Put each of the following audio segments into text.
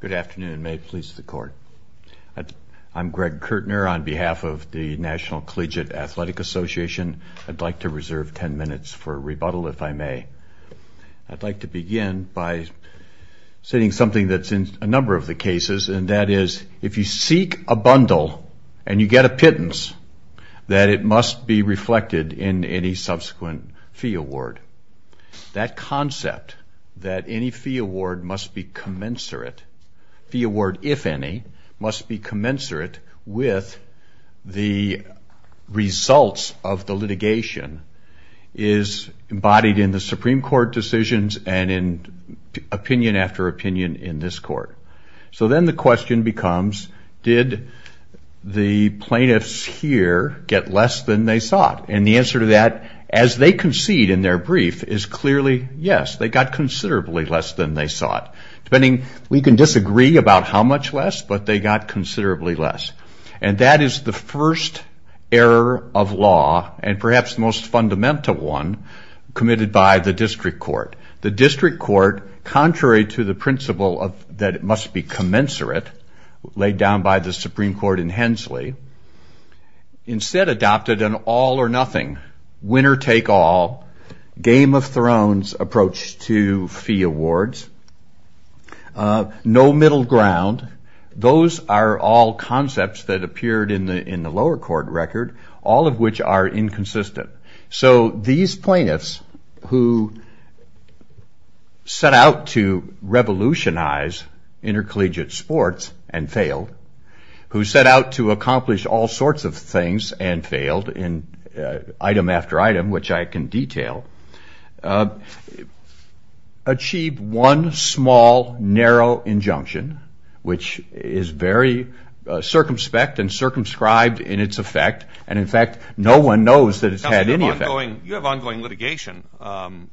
Good afternoon. May it please the court. I'm Greg Kirtner on behalf of the National Collegiate Athletic Association. I'd like to reserve 10 minutes for rebuttal, if I may. I'd like to begin by saying something that's in a number of the cases, and that is, if you seek a bundle and you get a pittance, that it must be commensurate. The award, if any, must be commensurate with the results of the litigation is embodied in the Supreme Court decisions and in opinion after opinion in this court. So then the question becomes, did the plaintiffs here get less than they sought? And the answer to that, as they concede in their brief, is clearly, yes, they got considerably less than they sought. Depending, we can disagree about how much less, but they got considerably less. And that is the first error of law, and perhaps the most fundamental one, committed by the district court. The district court, contrary to the principle of that it must be commensurate, laid down by the Supreme Court in Hensley, instead adopted an all-or-nothing, winner-take-all, Game of Thrones approach to fee awards, no middle ground. Those are all concepts that appeared in the lower court record, all of which are inconsistent. So these plaintiffs who set out to revolutionize intercollegiate sports and failed, who set out to accomplish all in item after item, which I can detail, achieved one small, narrow injunction, which is very circumspect and circumscribed in its effect, and in fact no one knows that it's had any effect. You have ongoing litigation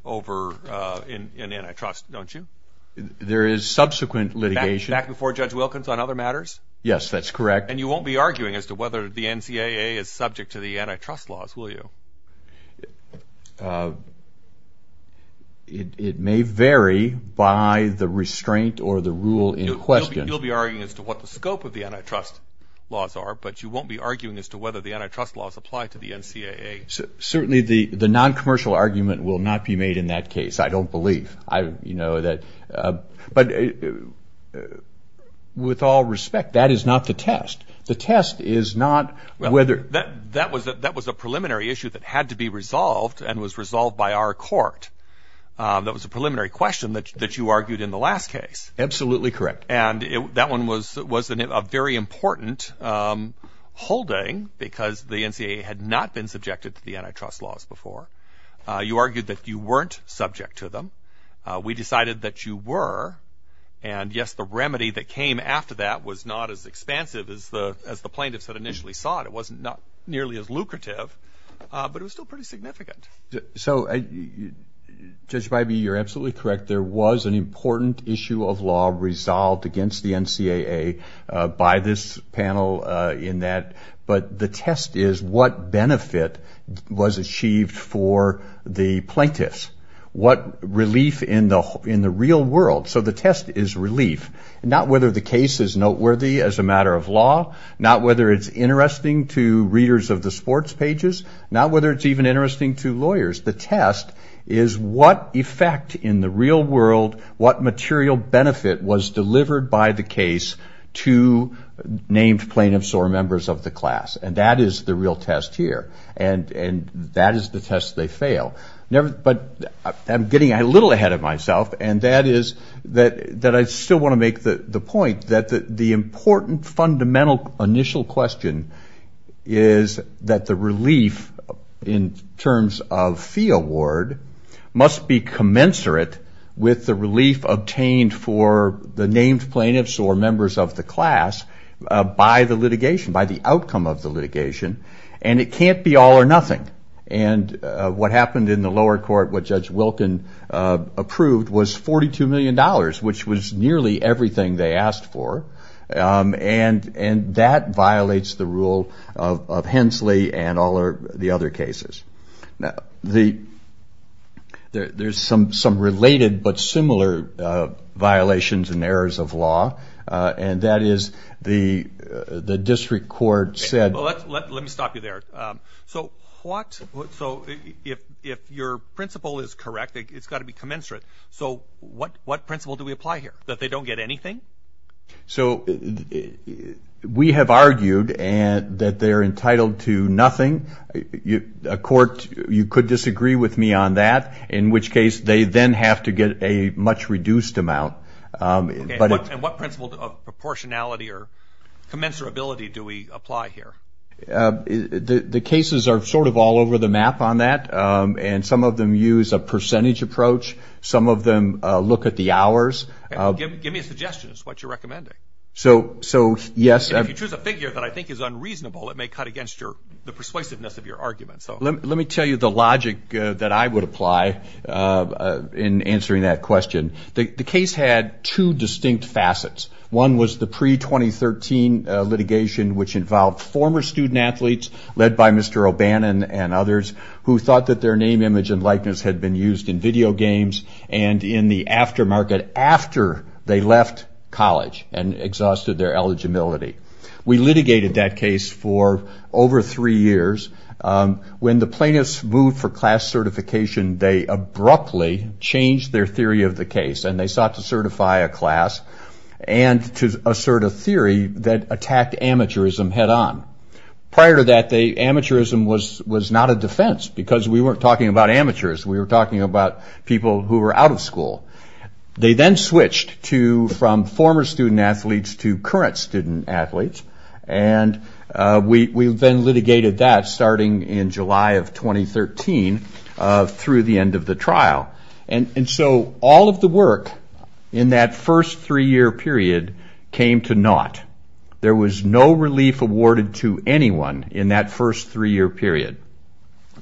over in antitrust, don't you? There is subsequent litigation. Back before Judge Wilkins on other matters? Yes, that's correct. And you won't be arguing as to whether the NCAA is subject to the antitrust laws, will you? It may vary by the restraint or the rule in question. You'll be arguing as to what the scope of the antitrust laws are, but you won't be arguing as to whether the antitrust laws apply to the NCAA. Certainly the non-commercial argument will not be made in that case, I don't believe. But with all respect, that is not the test. The test is not whether... That was a preliminary issue that had to be resolved and was resolved by our court. That was a preliminary question that you argued in the last case. Absolutely correct. And that one was a very important holding because the NCAA had not been subjected to the antitrust laws before. You argued that you weren't subject to them. We decided that you were, and yes, the remedy that came after that was not as nearly as lucrative, but it was still pretty significant. So, Judge Bybee, you're absolutely correct. There was an important issue of law resolved against the NCAA by this panel in that. But the test is what benefit was achieved for the plaintiffs? What relief in the real world? So the test is relief, not whether the case is noteworthy as a matter of law, not whether it's interesting to readers of the sports pages, not whether it's even interesting to lawyers. The test is what effect in the real world, what material benefit was delivered by the case to named plaintiffs or members of the class? And that is the real test here. And that is the test they fail. But I'm getting a little ahead of myself, and that is that I still want to make the point that the important, fundamental initial question is that the relief in terms of fee award must be commensurate with the relief obtained for the named plaintiffs or members of the class by the litigation, by the outcome of the litigation. And it can't be all or nothing. And what happened in the lower court, what Judge Wilkin approved was $42 million, which was nearly everything they asked for. And that violates the rule of Hensley and all the other cases. Now, there's some related but similar violations and errors of law, and that is the district court said... Well, let me stop you there. So if your principle is correct, it's got to be commensurate. So what principle do we apply here? That they don't get anything? So we have argued that they're entitled to nothing. A court, you could disagree with me on that, in which case they then have to get a much reduced amount. And what principle of proportionality or commensurability do we apply here? The cases are sort of all over the map on that, and some of them use a percentage approach. Some of them look at the hours. Give me a suggestion as to what you're recommending. So, yes... If you choose a figure that I think is unreasonable, it may cut against the persuasiveness of your argument. Let me tell you the logic that I would apply in answering that question. The case had two distinct facets. One was the pre-2013 litigation, which involved former student athletes led by Mr. O'Bannon and others, who thought that their name, image, and likeness had been used in video games and in the aftermarket after they left college and exhausted their eligibility. We litigated that case for over three years. When the plaintiffs moved for class certification, they abruptly changed their theory of the case, and they sought to certify a class and to assert a theory that attacked amateurism head-on. Prior to that, amateurism was not a defense, because we weren't talking about amateurs. We were talking about people who were out of school. They then switched from former student athletes to current student athletes, and we then litigated that starting in July of 2013 through the end of the trial. And so, all of the work in that first three-year period came to naught. There was no relief awarded to anyone in that first three-year period.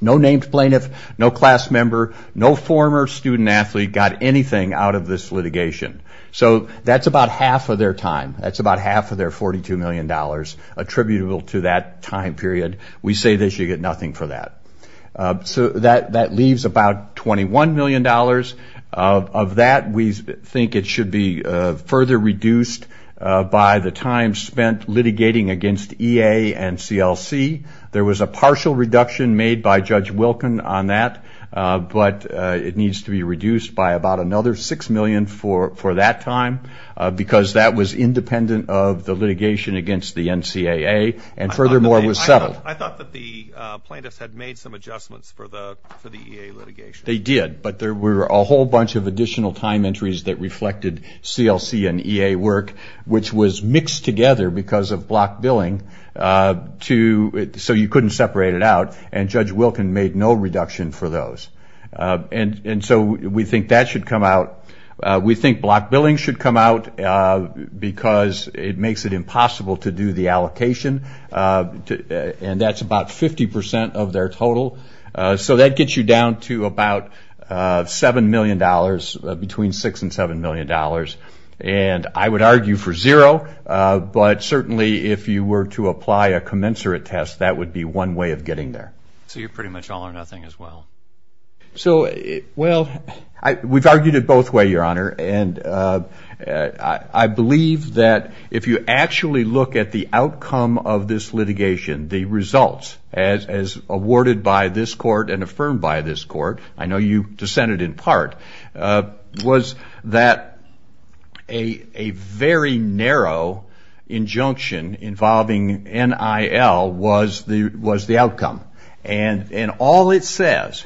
No named plaintiff, no class member, no former student athlete got anything out of this litigation. So, that's about half of their time. That's about half of their $42 million attributable to that time period. We say they should get nothing for that. So, that leaves about $21 million. Of that, we think it should be further reduced by the time spent litigating against EA and CLC. There was a partial reduction made by Judge Wilken on that, but it needs to be reduced by about another $6 million for that time, because that was independent of the litigation against the NCAA, and furthermore, it was settled. I thought that the plaintiffs had made some adjustments for the EA litigation. They did, but there were a whole bunch of additional time entries that reflected CLC and EA work, which was mixed together because of block billing, so you couldn't separate it out. And Judge Wilken made no reduction for those. And so, we think that should come out. We think block billing should come out, because it makes it impossible to do the allocation. And that's about 50% of their total. So, that gets you down to about $7 million, between $6 and $7 million. And I would argue for zero, but certainly, if you were to apply a commensurate test, that would be one way of getting there. So, you're pretty much all or nothing as well. So, well, we've argued it both ways, Your Honor, and I believe that if you actually look at the outcome of this litigation, the results, as awarded by this court and affirmed by this court, I know you dissented in part, was that a very narrow injunction involving NIL was the outcome, and all it says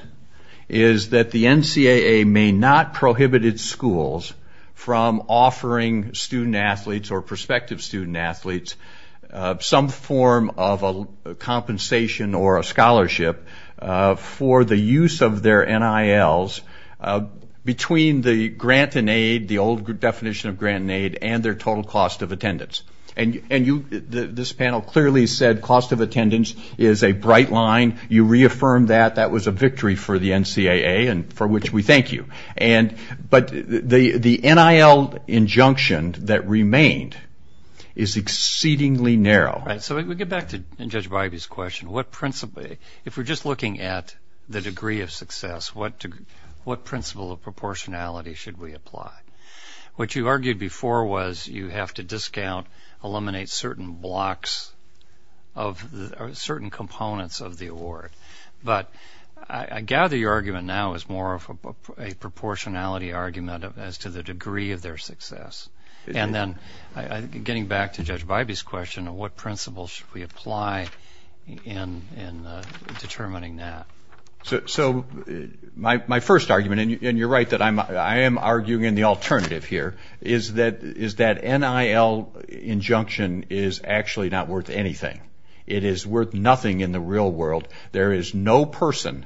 is that the NCAA may not prohibit its schools from offering student athletes or prospective student athletes some form of a compensation or a scholarship for the use of their NILs between the grant and aid, the old definition of grant and aid, and their total cost of attendance. And this panel clearly said cost of attendance is a bright line. You reaffirmed that. That was a victory for the NCAA, and for which we thank you. And, but the NIL injunction that remained is exceedingly narrow. Right. So, we get back to Judge Bybee's question. What principle, if we're just looking at the degree of success, what principle of proportionality should we apply? What you argued before was you have to discount, eliminate certain blocks of certain components of the award. But, I gather your argument now is more of a proportionality argument as to the degree of their success. And then, getting back to Judge Bybee's question, what principle should we apply in determining that? So, my first argument, and you're right that I am arguing in the alternative here, is that NIL injunction is actually not worth anything. It is worth nothing in the real world. There is no person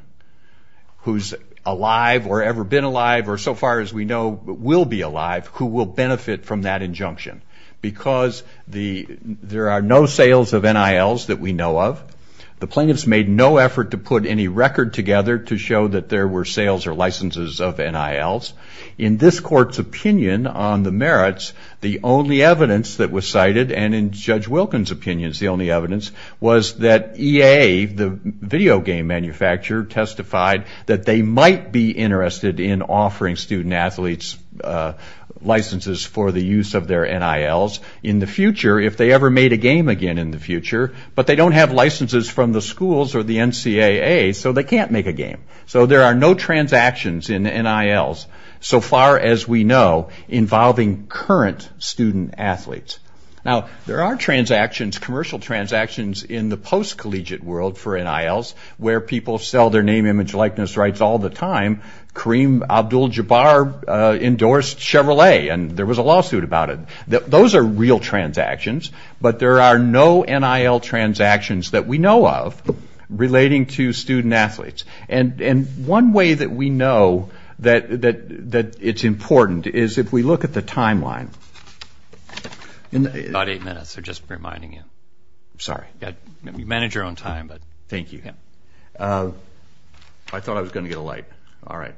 who's alive, or ever been alive, or so far as we know will be alive, who will benefit from that injunction. Because there are no sales of NILs that we know of. The plaintiffs made no effort to put any record together to show that there were sales or licenses of NILs. In this court's opinion on the merits, the only evidence that was cited, and in Judge Wilkins' opinion is the only evidence, was that EA, the video game manufacturer, testified that they might be interested in offering student athletes licenses for the use of their NILs in the future if they ever made a game again in the future. But, they don't have licenses from the schools or the NCAA, so they can't make a game. So, there are no transactions in NILs, so far as we know, involving current student athletes. Now, there are transactions, commercial transactions, in the post-collegiate world for NILs, where people sell their name, image, likeness, rights all the time. Kareem Abdul-Jabbar endorsed Chevrolet, and there was a lawsuit about it. Those are real transactions, but there are no NIL transactions that we know of relating to student athletes. And, one way that we know that it's important is if we look at the timeline. In the- About eight minutes, just reminding you. Sorry. You manage your own time, but- Thank you. I thought I was going to get a light. All right.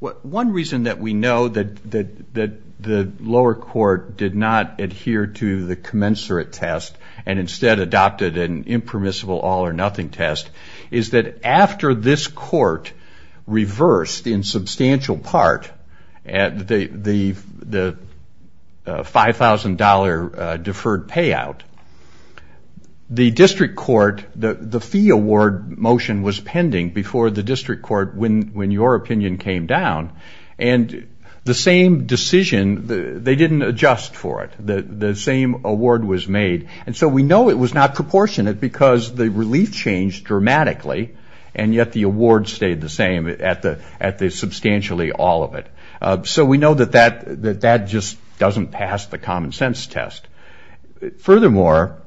One reason that we know that the lower court did not adhere to the commensurate test and instead adopted an impermissible all-or-nothing test is that after this court reversed in substantial part the $5,000 deferred payout, the district court, the fee award motion was pending before the district court when your opinion came down. And, the same decision, they didn't adjust for it. The same award was made. And so, we know it was not proportionate because the relief changed dramatically, and yet the award stayed the same at the substantially all of it. So, we know that that just doesn't pass the common sense test. Furthermore,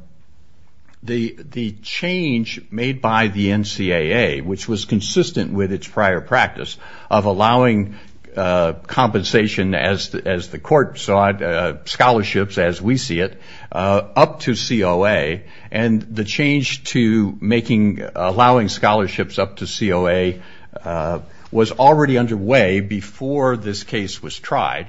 the change made by the NCAA, which was consistent with its prior practice of allowing compensation as the court saw it, scholarships as we see it, up to COA. And, the change to making, allowing scholarships up to COA was already underway before this case was tried.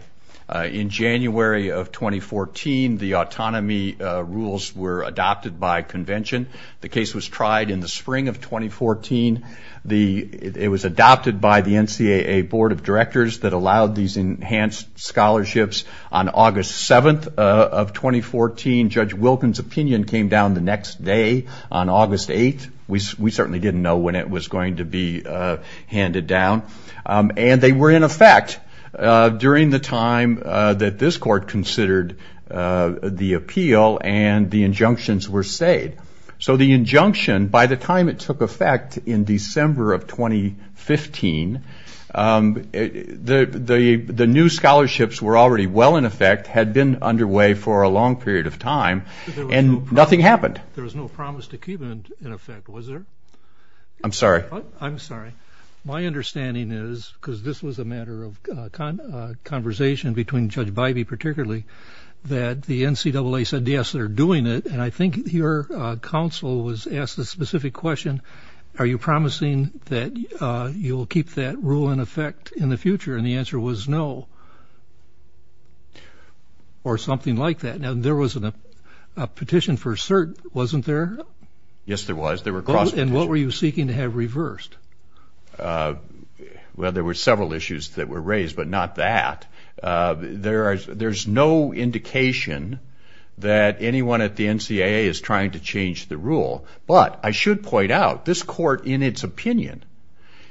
In January of 2014, the autonomy rules were adopted by convention. The case was tried in the spring of 2014. The, it was adopted by the NCAA Board of Directors that allowed these enhanced scholarships. On August 7th of 2014, Judge Wilkins' opinion came down the next day on August 8th. We certainly didn't know when it was going to be handed down. And, they were in effect during the time that this court considered the appeal and the injunctions were stayed. So, the injunction, by the time it took effect in December of 2015, the new scholarships were already well in effect, had been underway for a long period of time, and nothing happened. There was no promise to keep it in effect, was there? I'm sorry. I'm sorry. My understanding is, because this was a matter of conversation between Judge Bivey particularly, that the NCAA said, yes, they're doing it. And, I think your counsel was asked a specific question, are you promising that you'll keep that rule in effect in the future? And, the answer was no, or something like that. Now, there was a petition for cert, wasn't there? Yes, there was. There were cross petitions. And, what were you seeking to have reversed? Well, there were several issues that were raised, but not that. There's no indication that anyone at the NCAA is trying to change the rule. But, I should point out, this court, in its opinion,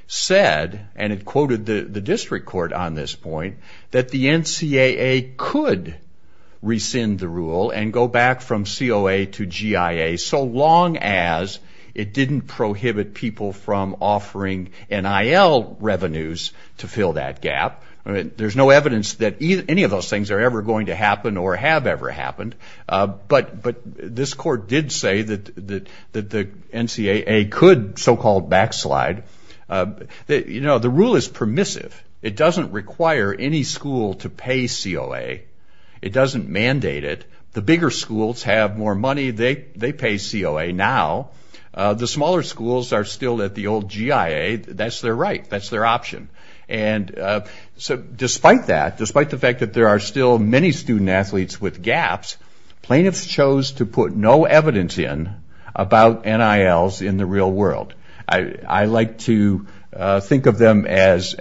said, and it quoted the district court on this point, that the NCAA could rescind the rule and go back from COA to GIA, so long as it didn't prohibit people from offering NIL revenues to fill that gap. There's no evidence that any of those things are ever going to happen or have ever happened. But, this court did say that the NCAA could so-called backslide. The rule is permissive. It doesn't require any school to pay COA. It doesn't mandate it. The bigger schools have more money. They pay COA now. The smaller schools are still at the old GIA. That's their right. That's their option. And so, despite that, despite the fact that there are still many student-athletes with gaps, plaintiffs chose to put no evidence in about NILs in the real world. I like to think of them as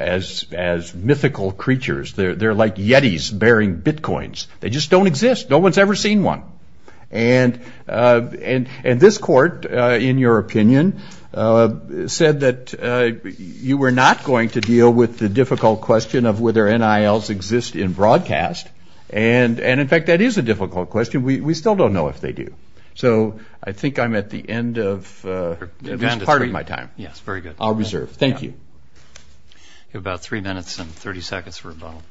mythical creatures. They're like yetis bearing bitcoins. They just don't exist. No one's ever seen one. And, this court, in your opinion, said that you were not going to deal with the difficult question of whether NILs exist in broadcast. And, in fact, that is a difficult question. We still don't know if they do. So, I think I'm at the end of my time. Yes, very good. I'll reserve. Thank you. We have about three minutes and 30 seconds for rebuttal.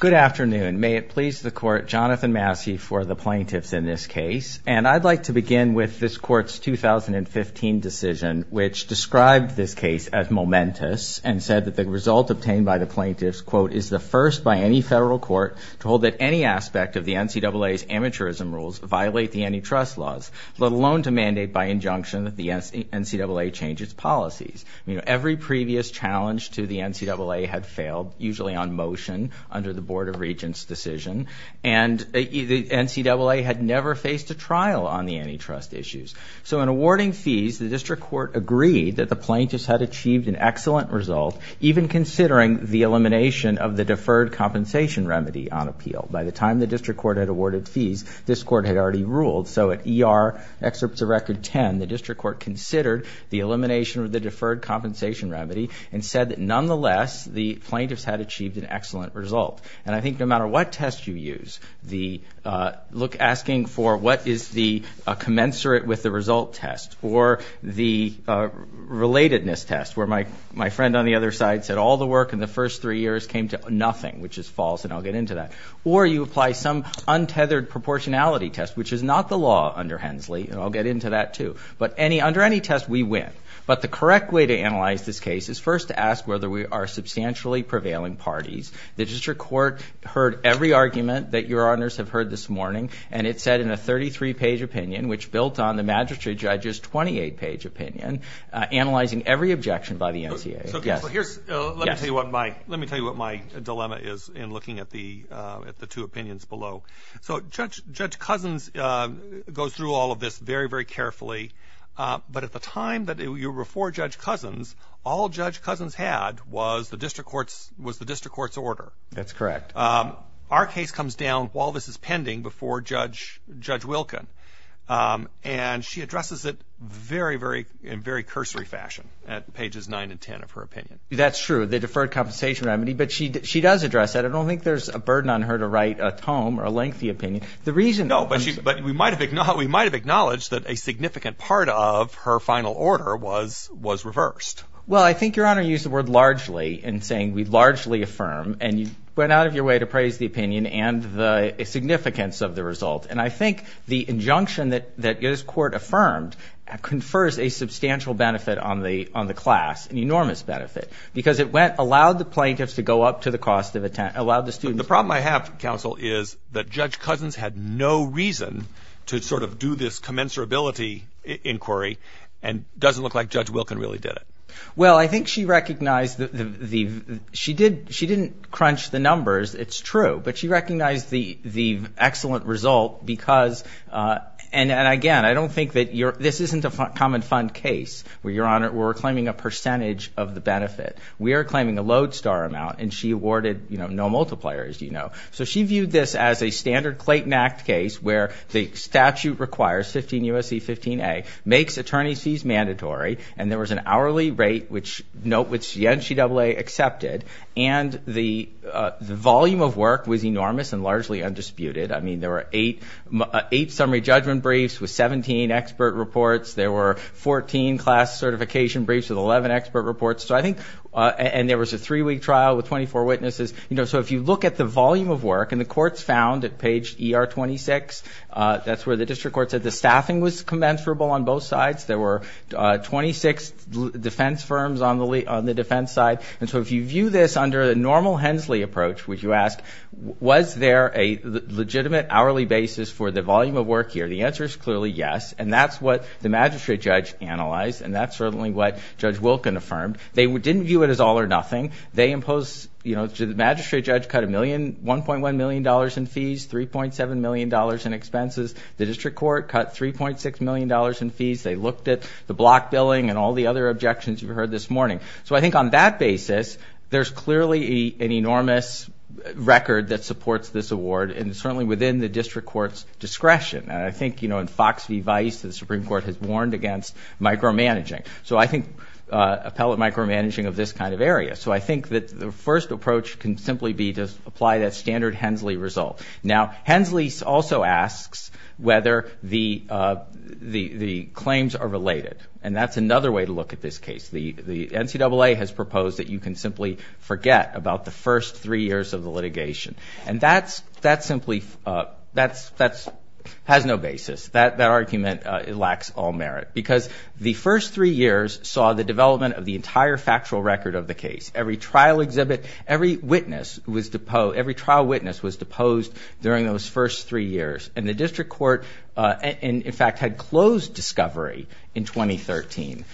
Good afternoon. May it please the court, Jonathan Massey for the plaintiffs in this case. And, I'd like to begin with this court's 2015 decision, which described this case as momentous and said that the result obtained by the plaintiffs, quote, is the first by any federal court to hold that any aspect of the NCAA's amateurism rules violate the antitrust laws, let alone to mandate by injunction that the NCAA change its policies. You know, every previous challenge to the NCAA had failed, usually on motion, under the Board of Regents decision. And, the NCAA had never faced a trial on the antitrust issues. So, in awarding fees, the district court agreed that the plaintiffs had achieved an excellent result, even considering the elimination of the deferred compensation remedy on appeal. By the time the district court had awarded fees, this court had already ruled. So, at ER excerpts of record 10, the district court considered the elimination of the deferred compensation remedy and said that, nonetheless, the plaintiffs had achieved an excellent result. And, I think no matter what test you use, the, look, asking for what is the commensurate with the result test, or the relatedness test, where my friend on the other side said, all the work in the first three years came to nothing, which is false, and I'll get into that. Or, you apply some untethered proportionality test, which is not the law under Hensley, and I'll get into that too. But, under any test, we win. But, the correct way to analyze this case is first to ask whether we are substantially prevailing parties. The district court heard every argument that your honors have heard this morning, and it said in a 33-page opinion, which built on the magistrate judge's 28-page opinion, analyzing every objection by the NCAA. So, here's, let me tell you what my dilemma is in looking at the two opinions below. So, Judge Cousins goes through all of this very, very carefully. But, at the time that you were before Judge Cousins, all Judge Cousins had was the district court's order. That's correct. Our case comes down while this is pending before Judge Wilken, and she addresses it in very cursory fashion at pages 9 and 10 of her opinion. That's true. The deferred compensation remedy. But, she does address that. I don't think there's a burden on her to write a tome or a lengthy opinion. No, but we might have acknowledged that a significant part of her final order was reversed. Well, I think your honor used the word largely in saying we largely affirm, and you went out of your way to praise the opinion and the significance of the result. And, I think the injunction that this court affirmed confers a substantial benefit on the class, an enormous benefit, because it allowed the plaintiffs to go up to the cost of, allowed the students. The problem I have, counsel, is that Judge Cousins had no reason to sort of do this commensurability inquiry, and doesn't look like Judge Wilken really did it. Well, I think she recognized the, she didn't crunch the numbers, it's true. But, she recognized the excellent result because, and again, I don't think that this isn't a common fund case, where your honor, we're claiming a percentage of the benefit. We are claiming a lodestar amount, and she awarded, you know, no multiplier, as you know. So, she viewed this as a standard Clayton Act case, where the statute requires 15 U.S.C. 15 A, makes attorney's fees mandatory. And, there was an hourly rate, which the NCAA accepted. And, the volume of work was enormous and largely undisputed. I mean, there were eight summary judgment briefs with 17 expert reports. There were 14 class certification briefs with 11 expert reports. So, I think, and there was a three-week trial with 24 witnesses, you know. So, if you look at the volume of work, and the court's found at page ER 26, that's where the district court said the staffing was commensurable on both sides. There were 26 defense firms on the defense side. And so, if you view this under a normal Hensley approach, which you ask, was there a legitimate hourly basis for the volume of work here? The answer is clearly yes. And, that's what the magistrate judge analyzed. And, that's certainly what Judge Wilken affirmed. They didn't view it as all or nothing. They imposed, you know, the magistrate judge cut a million, $1.1 million in fees, $3.7 million in expenses. The district court cut $3.6 million in fees. They looked at the block billing and all the other objections you've heard this morning. So, I think on that basis, there's clearly an enormous record that supports this award. And, certainly within the district court's discretion. And, I think, you know, in Fox v. Vice, the Supreme Court has warned against micromanaging. So, I think appellate micromanaging of this kind of area. So, I think that the first approach can simply be to apply that standard Hensley result. Now, Hensley also asks whether the claims are related. And, that's another way to look at this case. The NCAA has proposed that you can simply forget about the first three years of the litigation. And, that simply has no basis. That argument lacks all merit. Because the first three years saw the development of the entire factual record of the case. Every trial witness was deposed during those first three years. And, the district court, in fact, had closed discovery in 2013.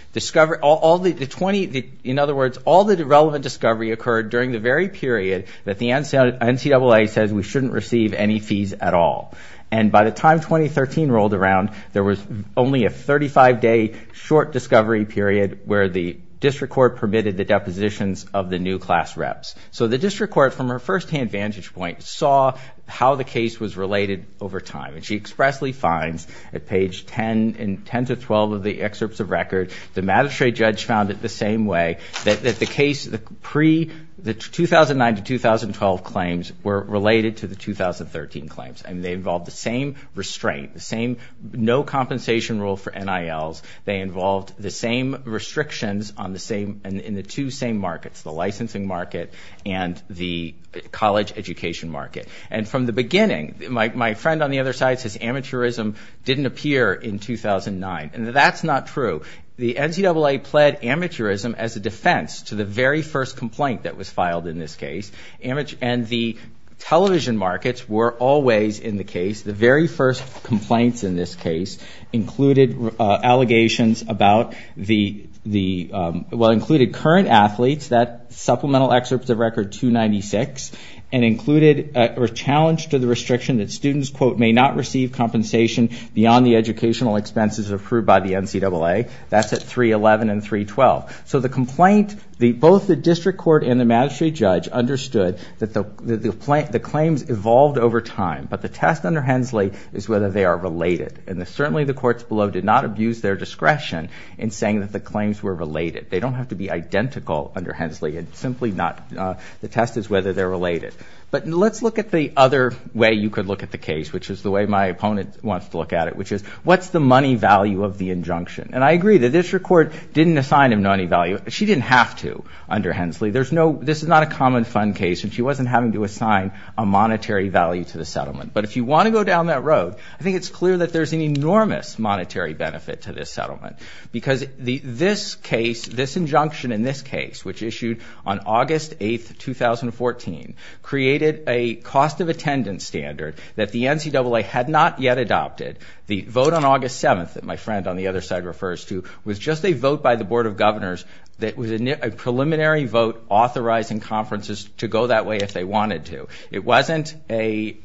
In other words, all the relevant discovery occurred during the very period that the NCAA says we shouldn't receive any fees at all. And, by the time 2013 rolled around, there was only a 35-day short discovery period where the district court permitted the depositions of the new class reps. So, the district court, from her firsthand vantage point, saw how the case was related over time. And, she expressly finds at page 10 and 10 to 12 of the excerpts of record, the magistrate judge found it the same way. That the case, the 2009 to 2012 claims were related to the 2013 claims. And, they involved the same restraint, the same no compensation rule for NILs. They involved the same restrictions on the same, in the two same markets, the licensing market and the college education market. And, from the beginning, my friend on the other side says amateurism didn't appear in 2009. And, that's not true. The NCAA pled amateurism as a defense to the very first complaint that was filed in this case. And, the television markets were always in the case. The very first complaints in this case included allegations about the, well, included current athletes, that supplemental excerpt of record 296. And, included or challenged to the restriction that students, quote, may not receive compensation beyond the educational expenses approved by the NCAA. That's at 311 and 312. So, the complaint, both the district court and the magistrate judge understood that the claims evolved over time. But, the test under Hensley is whether they are related. And, certainly, the courts below did not abuse their discretion in saying that the claims were related. They don't have to be identical under Hensley. It's simply not, the test is whether they're related. But, let's look at the other way you could look at the case, which is the way my opponent wants to look at it, which is what's the money value of the injunction? And, I agree that district court didn't assign him any value. She didn't have to under Hensley. There's no, this is not a common fund case. And, she wasn't having to assign a monetary value to the settlement. But, if you want to go down that road, I think it's clear that there's an enormous monetary benefit to this settlement. Because, this case, this injunction in this case, which issued on August 8th, 2014 created a cost of attendance standard that the NCAA had not yet adopted. The vote on August 7th that my friend on the other side refers to was just a vote by the Board of Governors that was a preliminary vote authorizing conferences to go that way if they wanted to. It wasn't a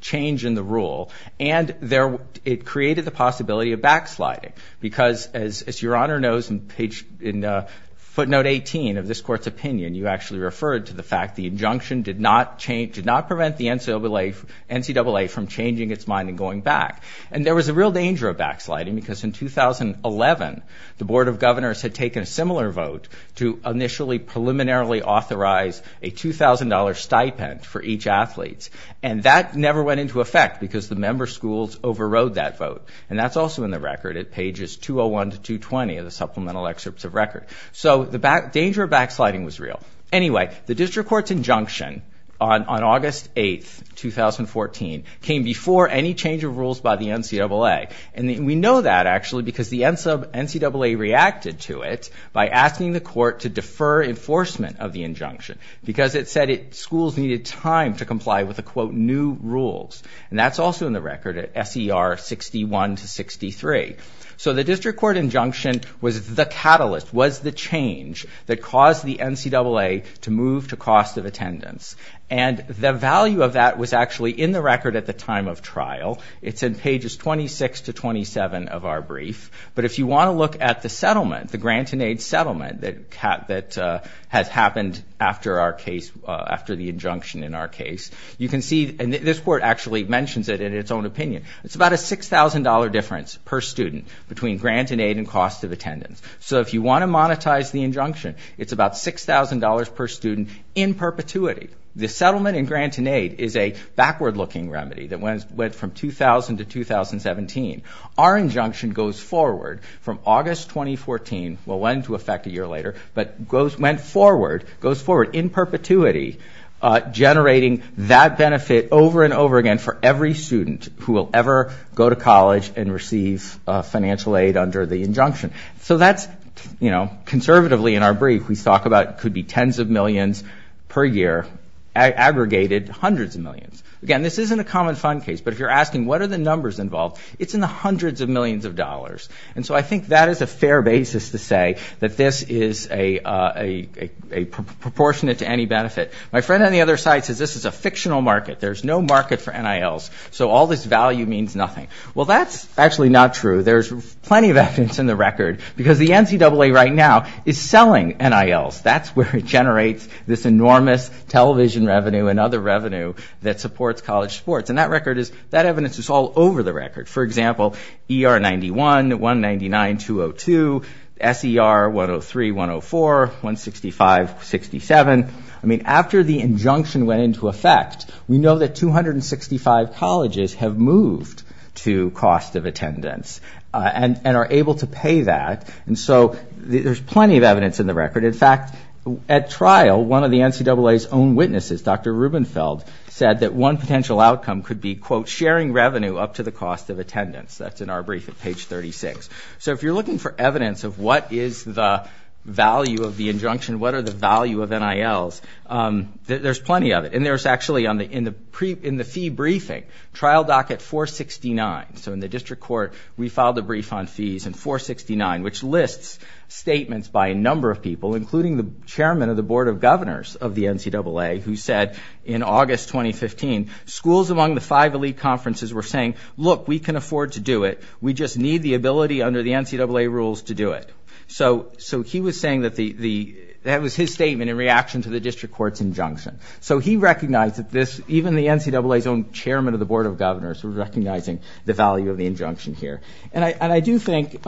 change in the rule. And, it created the possibility of backsliding. Because, as your Honor knows in footnote 18 of this court's opinion, you actually referred to the fact the injunction did not change, did not prevent the NCAA from changing its mind and going back. And, there was a real danger of backsliding. Because, in 2011, the Board of Governors had taken a similar vote to initially preliminarily authorize a $2,000 stipend for each athlete. And, that never went into effect because the member schools overrode that vote. And, that's also in the record at pages 201 to 220 of the supplemental excerpts of record. So, the danger of backsliding was real. Anyway, the district court's injunction on August 8th, 2014 came before any change of rules by the NCAA. And, we know that actually because the NCAA reacted to it by asking the court to defer enforcement of the injunction. Because, it said schools needed time to comply with the quote new rules. And, that's also in the record at SER 61 to 63. So, the district court injunction was the catalyst, was the change that caused the NCAA to move to cost of attendance. And, the value of that was actually in the record at the time of trial. It's in pages 26 to 27 of our brief. But, if you want to look at the settlement, the grant and aid settlement that has happened after our case, after the injunction in our case, you can see and this court actually mentions it in its own opinion. It's about a $6,000 difference per student between grant and aid and cost of attendance. So, if you want to monetize the injunction, it's about $6,000 per student in perpetuity. The settlement and grant and aid is a backward looking remedy that went from 2000 to 2017. Our injunction goes forward from August 2014. Well, went to effect a year later. But, goes went forward, goes forward in perpetuity, generating that benefit over and over again for every student who will ever go to college and receive financial aid under the injunction. So, that's, you know, conservatively in our brief, we talk about could be tens of millions per year, aggregated hundreds of millions. Again, this isn't a common fund case. But, if you're asking what are the numbers involved, it's in the hundreds of millions of dollars. And so, I think that is a fair basis to say that this is a proportionate to any benefit. My friend on the other side says this is a fictional market. There's no market for NILs. So, all this value means nothing. Well, that's actually not true. There's plenty of evidence in the record because the NCAA right now is selling NILs. That's where it generates this enormous television revenue and other revenue that supports college sports. And that record is, that evidence is all over the record for example, ER 91, 199, 202, SER 103, 104, 165, 67. I mean, after the injunction went into effect, we know that 265 colleges have moved to cost of attendance and are able to pay that. And so, there's plenty of evidence in the record. In fact, at trial, one of the NCAA's own witnesses, Dr. Rubenfeld, said that one potential outcome could be, quote, sharing revenue up to the cost of attendance. That's in our brief at page 36. So, if you're looking for evidence of what is the value of the injunction, what are the value of NILs, there's plenty of it. And there's actually, in the fee briefing, trial docket 469. So, in the district court, we filed a brief on fees and 469, which lists statements by a number of people, including the chairman of the board of governors of the NCAA, who said in August 2015, schools among the five elite conferences were saying, look, we can afford to do it. We just need the ability under the NCAA rules to do it. So, he was saying that that was his statement in reaction to the district court's injunction. So, he recognized that this, even the NCAA's own chairman of the board of governors was recognizing the value of the injunction here. And I do think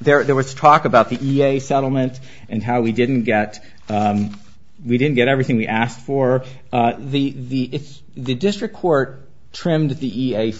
there was talk about the EA settlement and how we didn't get, we didn't get everything we asked for. The district court trimmed the EA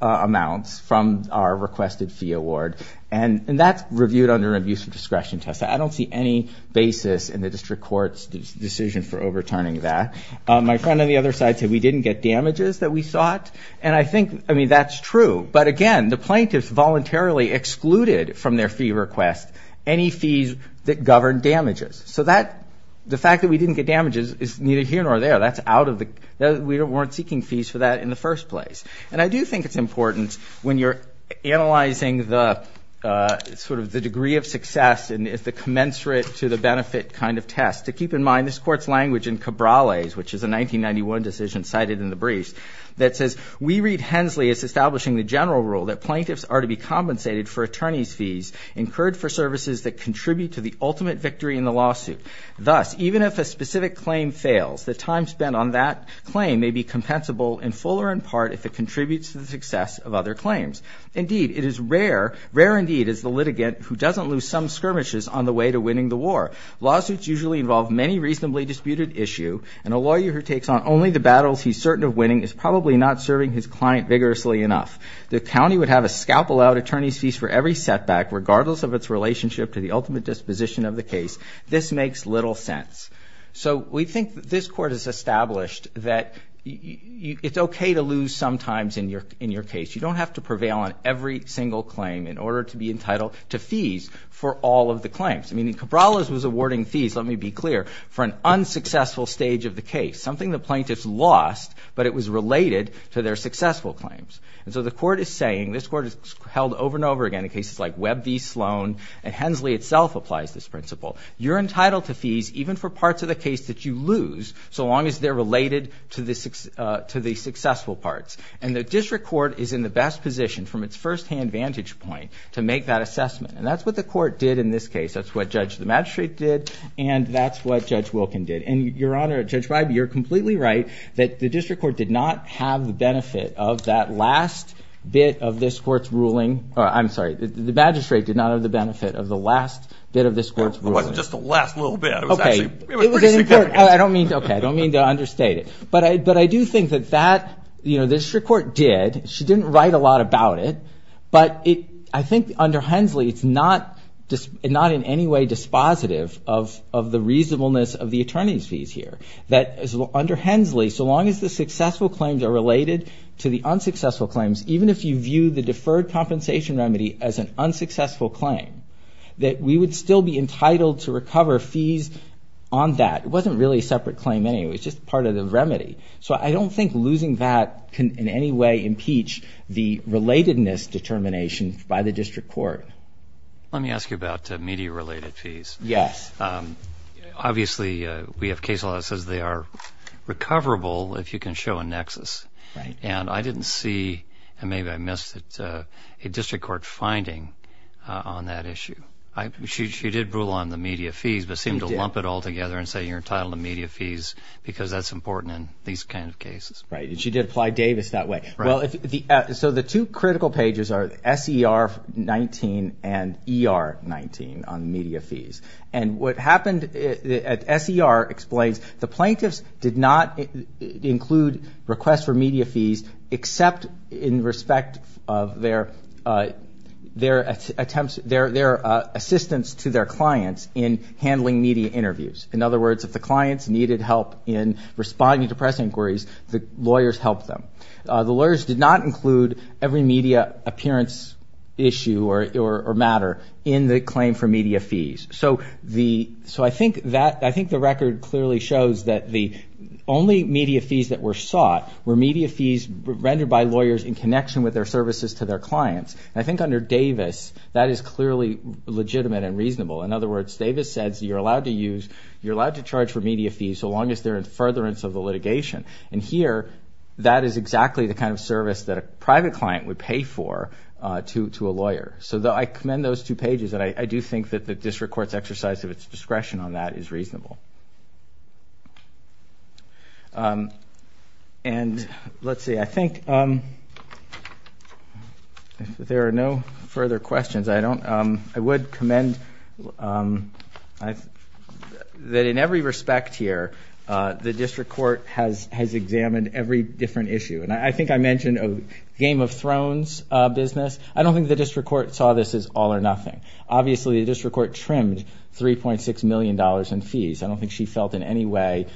amounts from our requested fee award. And that's reviewed under an abuse of discretion test. I don't see any basis in the district court's decision for overturning that. My friend on the other side said we didn't get damages that we sought. And I think, I mean, that's true. But again, the plaintiffs voluntarily excluded from their fee request any fees that govern damages. So, that, the fact that we didn't get damages is neither here nor there. That's out of the, we weren't seeking fees for that in the first place. And I do think it's important when you're analyzing the, sort of, the degree of success and if the commensurate to the benefit kind of test, to keep in mind this court's language in Cabrales, which is a 1991 decision cited in the briefs, that says, we read Hensley as establishing the general rule that plaintiffs are to be compensated for attorney's fees incurred for services that contribute to the ultimate victory in the lawsuit. Thus, even if a specific claim fails, the time spent on that claim may be compensable in full or in part if it contributes to the success of other claims. Indeed, it is rare, rare indeed is the litigant who doesn't lose some skirmishes on the way to winning the war. Lawsuits usually involve many reasonably disputed issue. And a lawyer who takes on only the battles he's certain of winning is probably not serving his client vigorously enough. The county would have a scalpel out attorney's fees for every setback regardless of its relationship to the ultimate disposition of the case. This makes little sense. So we think that this court has established that it's okay to lose sometimes in your case. You don't have to prevail on every single claim in order to be entitled to fees for all of the claims. I mean, Cabrales was awarding fees, let me be clear, for an unsuccessful stage of the case. Something the plaintiffs lost, but it was related to their successful claims. And so the court is saying, this court is held over and over again in cases like Webb v. Sloan. And Hensley itself applies this principle. You're entitled to fees even for parts of the case that you lose so long as they're related to the successful parts. And the district court is in the best position from its firsthand vantage point to make that assessment. And that's what the court did in this case. That's what Judge the Magistrate did. And that's what Judge Wilkin did. And Your Honor, Judge Bybee, you're completely right that the district court did not have the benefit of that last bit of this court's ruling. I'm sorry. The magistrate did not have the benefit of the last bit of this court's ruling. It wasn't just the last little bit. It was actually pretty significant. I don't mean to understate it. But I do think that the district court did. She didn't write a lot about it. But I think under Hensley, it's not in any way dispositive of the reasonableness of the attorney's fees here. That under Hensley, so long as the successful claims are related to the unsuccessful claims, even if you view the deferred compensation remedy as an unsuccessful claim, that we would still be entitled to recover fees on that. It wasn't really a separate claim anyway. It was just part of the remedy. So I don't think losing that can in any way impeach the relatedness determination by the district court. Let me ask you about media-related fees. Yes. Obviously, we have case law that says they are recoverable if you can show a nexus. Right. And I didn't see, and maybe I missed it, a district court finding on that issue. She did rule on the media fees, but seemed to lump it all together and say you're entitled to media fees because that's important in these kind of cases. Right. She did apply Davis that way. So the two critical pages are SER-19 and ER-19 on media fees. And what happened at SER explains the plaintiffs did not include requests for media fees except in respect of their assistance to their clients in handling media interviews. In other words, if the clients needed help in responding to press inquiries, the lawyers helped them. The lawyers did not include every media appearance issue or matter in the claim for media fees. So I think the record clearly shows that the only media fees that were sought were media fees rendered by lawyers in connection with their services to their clients. And I think under Davis, that is clearly legitimate and reasonable. In other words, Davis says you're allowed to use, you're allowed to charge for media fees so long as they're in furtherance of the litigation. And here, that is exactly the kind of service that a private client would pay for to a lawyer. So I commend those two pages. And I do think that the district court's exercise of its discretion on that is reasonable. And let's see. I think if there are no further questions, I would commend that in every respect here, the district court has examined every different issue. And I think I mentioned a Game of Thrones business. I don't think the district court saw this as all or nothing. Obviously, the district court trimmed $3.6 million in fees. I don't think she felt in any way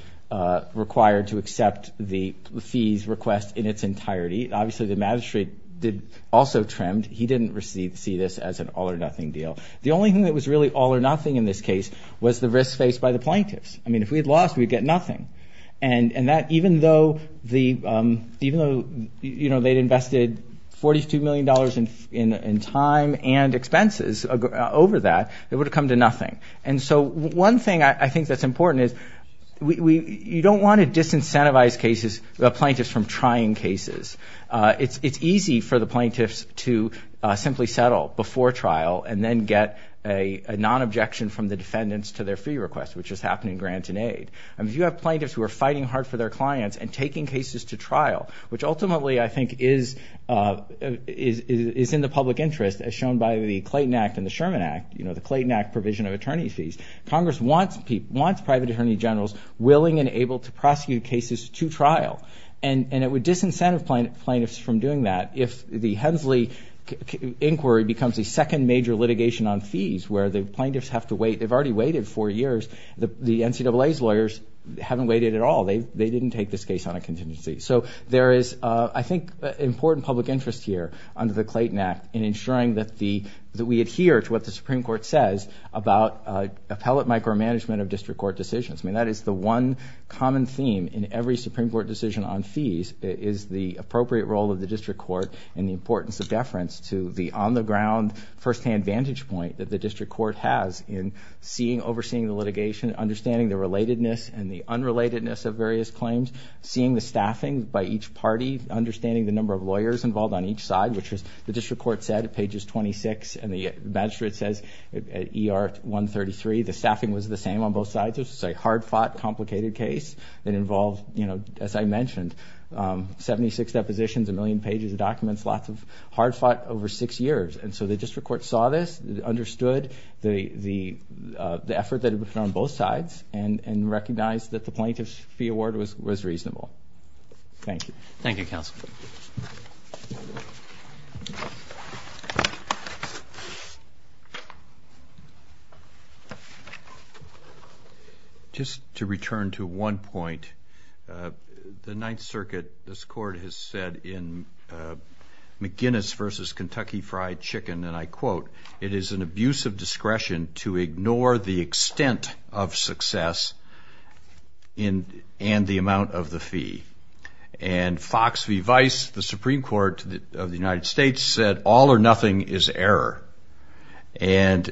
required to accept the fees request in its entirety. Obviously, the magistrate also trimmed. He didn't see this as an all or nothing deal. The only thing that was really all or nothing in this case was the risk faced by the plaintiffs. I mean, if we had lost, we'd get nothing. And even though they'd invested $42 million in time and expenses over that, it would have come to nothing. And so one thing I think that's important is you don't want to disincentivize plaintiffs from trying cases. It's easy for the plaintiffs to simply settle before trial and then get a non-objection from the defendants to their fee request, which is happening grant and aid. And if you have plaintiffs who are fighting hard for their clients and taking cases to trial, which ultimately I think is in the public interest as shown by the Clayton Act and the Sherman Act, the Clayton Act provision of attorney fees, Congress wants private attorney generals willing and able to prosecute cases to trial. And it would disincentive plaintiffs from doing that if the Hensley inquiry becomes the second major litigation on fees where the plaintiffs have to wait. They've already waited four years. The NCAA's lawyers haven't waited at all. They didn't take this case on a contingency. So there is, I think, important public interest here under the Clayton Act in ensuring that we adhere to what the Supreme Court says about appellate micromanagement of district court decisions. I mean, that is the one common theme in every Supreme Court decision on fees is the appropriate role of the district court and the importance of deference to the on-the-ground firsthand vantage point that the district court has in overseeing the litigation, understanding the relatedness and the unrelatedness of various claims, seeing the staffing by each party, understanding the number of lawyers involved on each side, which as the district court said at pages 26 and the magistrate says at ER 133, the staffing was the same on both sides. It was a hard-fought, complicated case that involved, you know, as I mentioned, 76 depositions, a million pages of documents, lots of hard-fought over six years. And so the district court saw this, understood the effort that had been put on both sides and recognized that the plaintiff's fee award was reasonable. Thank you. Thank you, counsel. Just to return to one point, the Ninth Circuit, this court has said in McGinnis versus Kentucky Fried Chicken, and I quote, it is an abuse of discretion to ignore the extent of success and the amount of the fee. And Fox v. Vice, the Supreme Court of the United States said all or nothing is error. And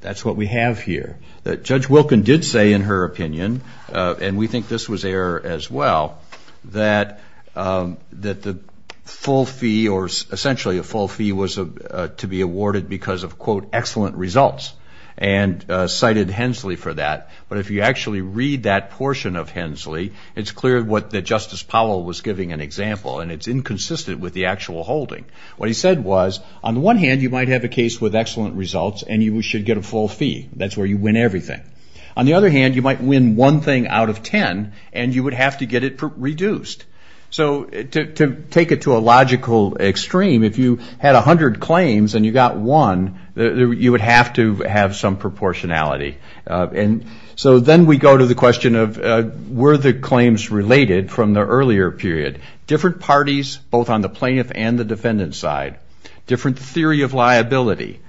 that's what we have here. Judge Wilkin did say in her opinion, and we think this was error as well, that the full fee or essentially a full fee was to be awarded because of quote, excellent results and cited Hensley for that. But if you actually read that portion of Hensley, it's clear what the Justice Powell was giving an example, and it's inconsistent with the actual holding. What he said was, on the one hand, you might have a case with excellent results and you should get a full fee. That's where you win everything. On the other hand, you might win one thing out of 10 and you would have to get it reduced. So to take it to a logical extreme, if you had a hundred claims and you got one, you would have to have some proportionality. And so then we go to the question of, were the claims related from the earlier period? Different parties, both on the plaintiff and the defendant side, different theory of liability.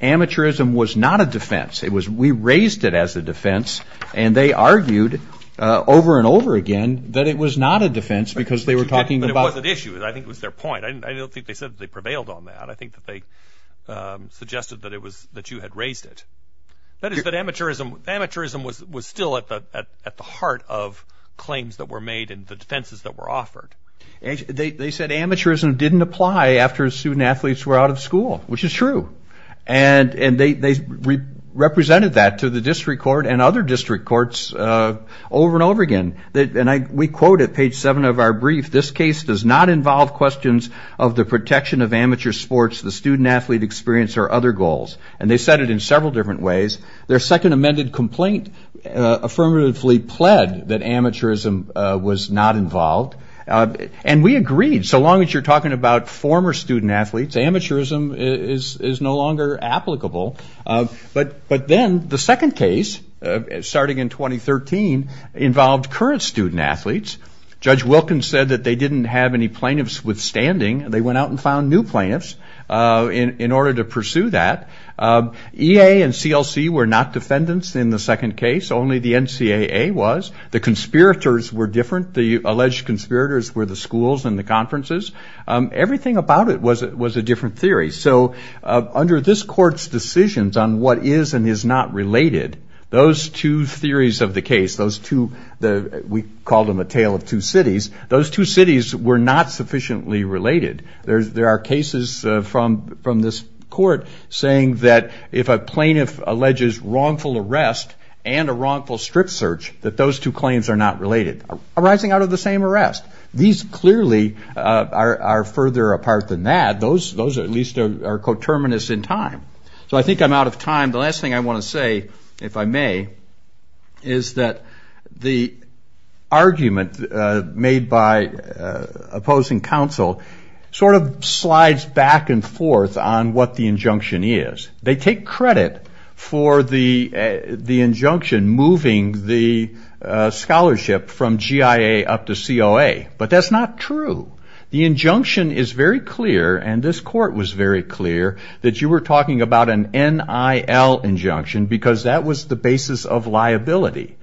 Amateurism was not a defense. It was, we raised it as a defense and they argued over and over again that it was not a defense because they were talking about- It was an issue. I think it was their point. I don't think they said they prevailed on that. I think that they suggested that it was, that you had raised it. That is that amateurism, amateurism was still at the heart of claims that were made and the defenses that were offered. They said amateurism didn't apply after student athletes were out of school, which is true. And they represented that to the district court and other district courts over and over again. We quote at page seven of our brief, this case does not involve questions of the protection of amateur sports, the student athlete experience or other goals. And they said it in several different ways. Their second amended complaint affirmatively pled that amateurism was not involved. And we agreed. So long as you're talking about former student athletes, amateurism is no longer applicable. But then the second case starting in 2013 involved current student athletes. Judge Wilkins said that they didn't have any plaintiffs withstanding. They went out and found new plaintiffs in order to pursue that. EA and CLC were not defendants in the second case. Only the NCAA was. The conspirators were different. The alleged conspirators were the schools and the conferences. Everything about it was a different theory. So under this court's decisions on what is and is not related, those two theories of the case, those two, we called them a tale of two cities. Those two cities were not sufficiently related. There are cases from this court saying that if a plaintiff alleges wrongful arrest and a wrongful strip search, that those two claims are not related, arising out of the same arrest. These clearly are further apart than that. Those at least are coterminous in time. So I think I'm out of time. The last thing I want to say, if I may, is that the argument made by opposing counsel sort of slides back and forth on what the injunction is. They take credit for the injunction moving the scholarship from GIA up to COA. But that's not true. The injunction is very clear, and this court was very clear, that you were talking about an NIL injunction because that was the basis of liability.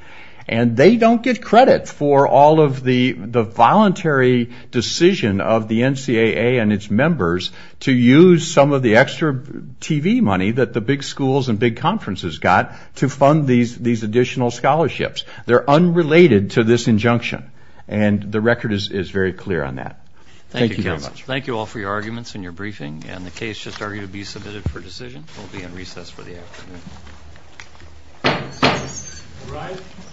And they don't get credit for all of the voluntary decision of the NCAA and its members to use some of the extra TV money that the big schools and big conferences got to fund these additional scholarships. They're unrelated to this injunction, and the record is very clear on that. Thank you very much. Thank you, counsel. Thank you all for your arguments and your briefing, and the case just argued to be submitted for decision. We'll be in recess for the afternoon.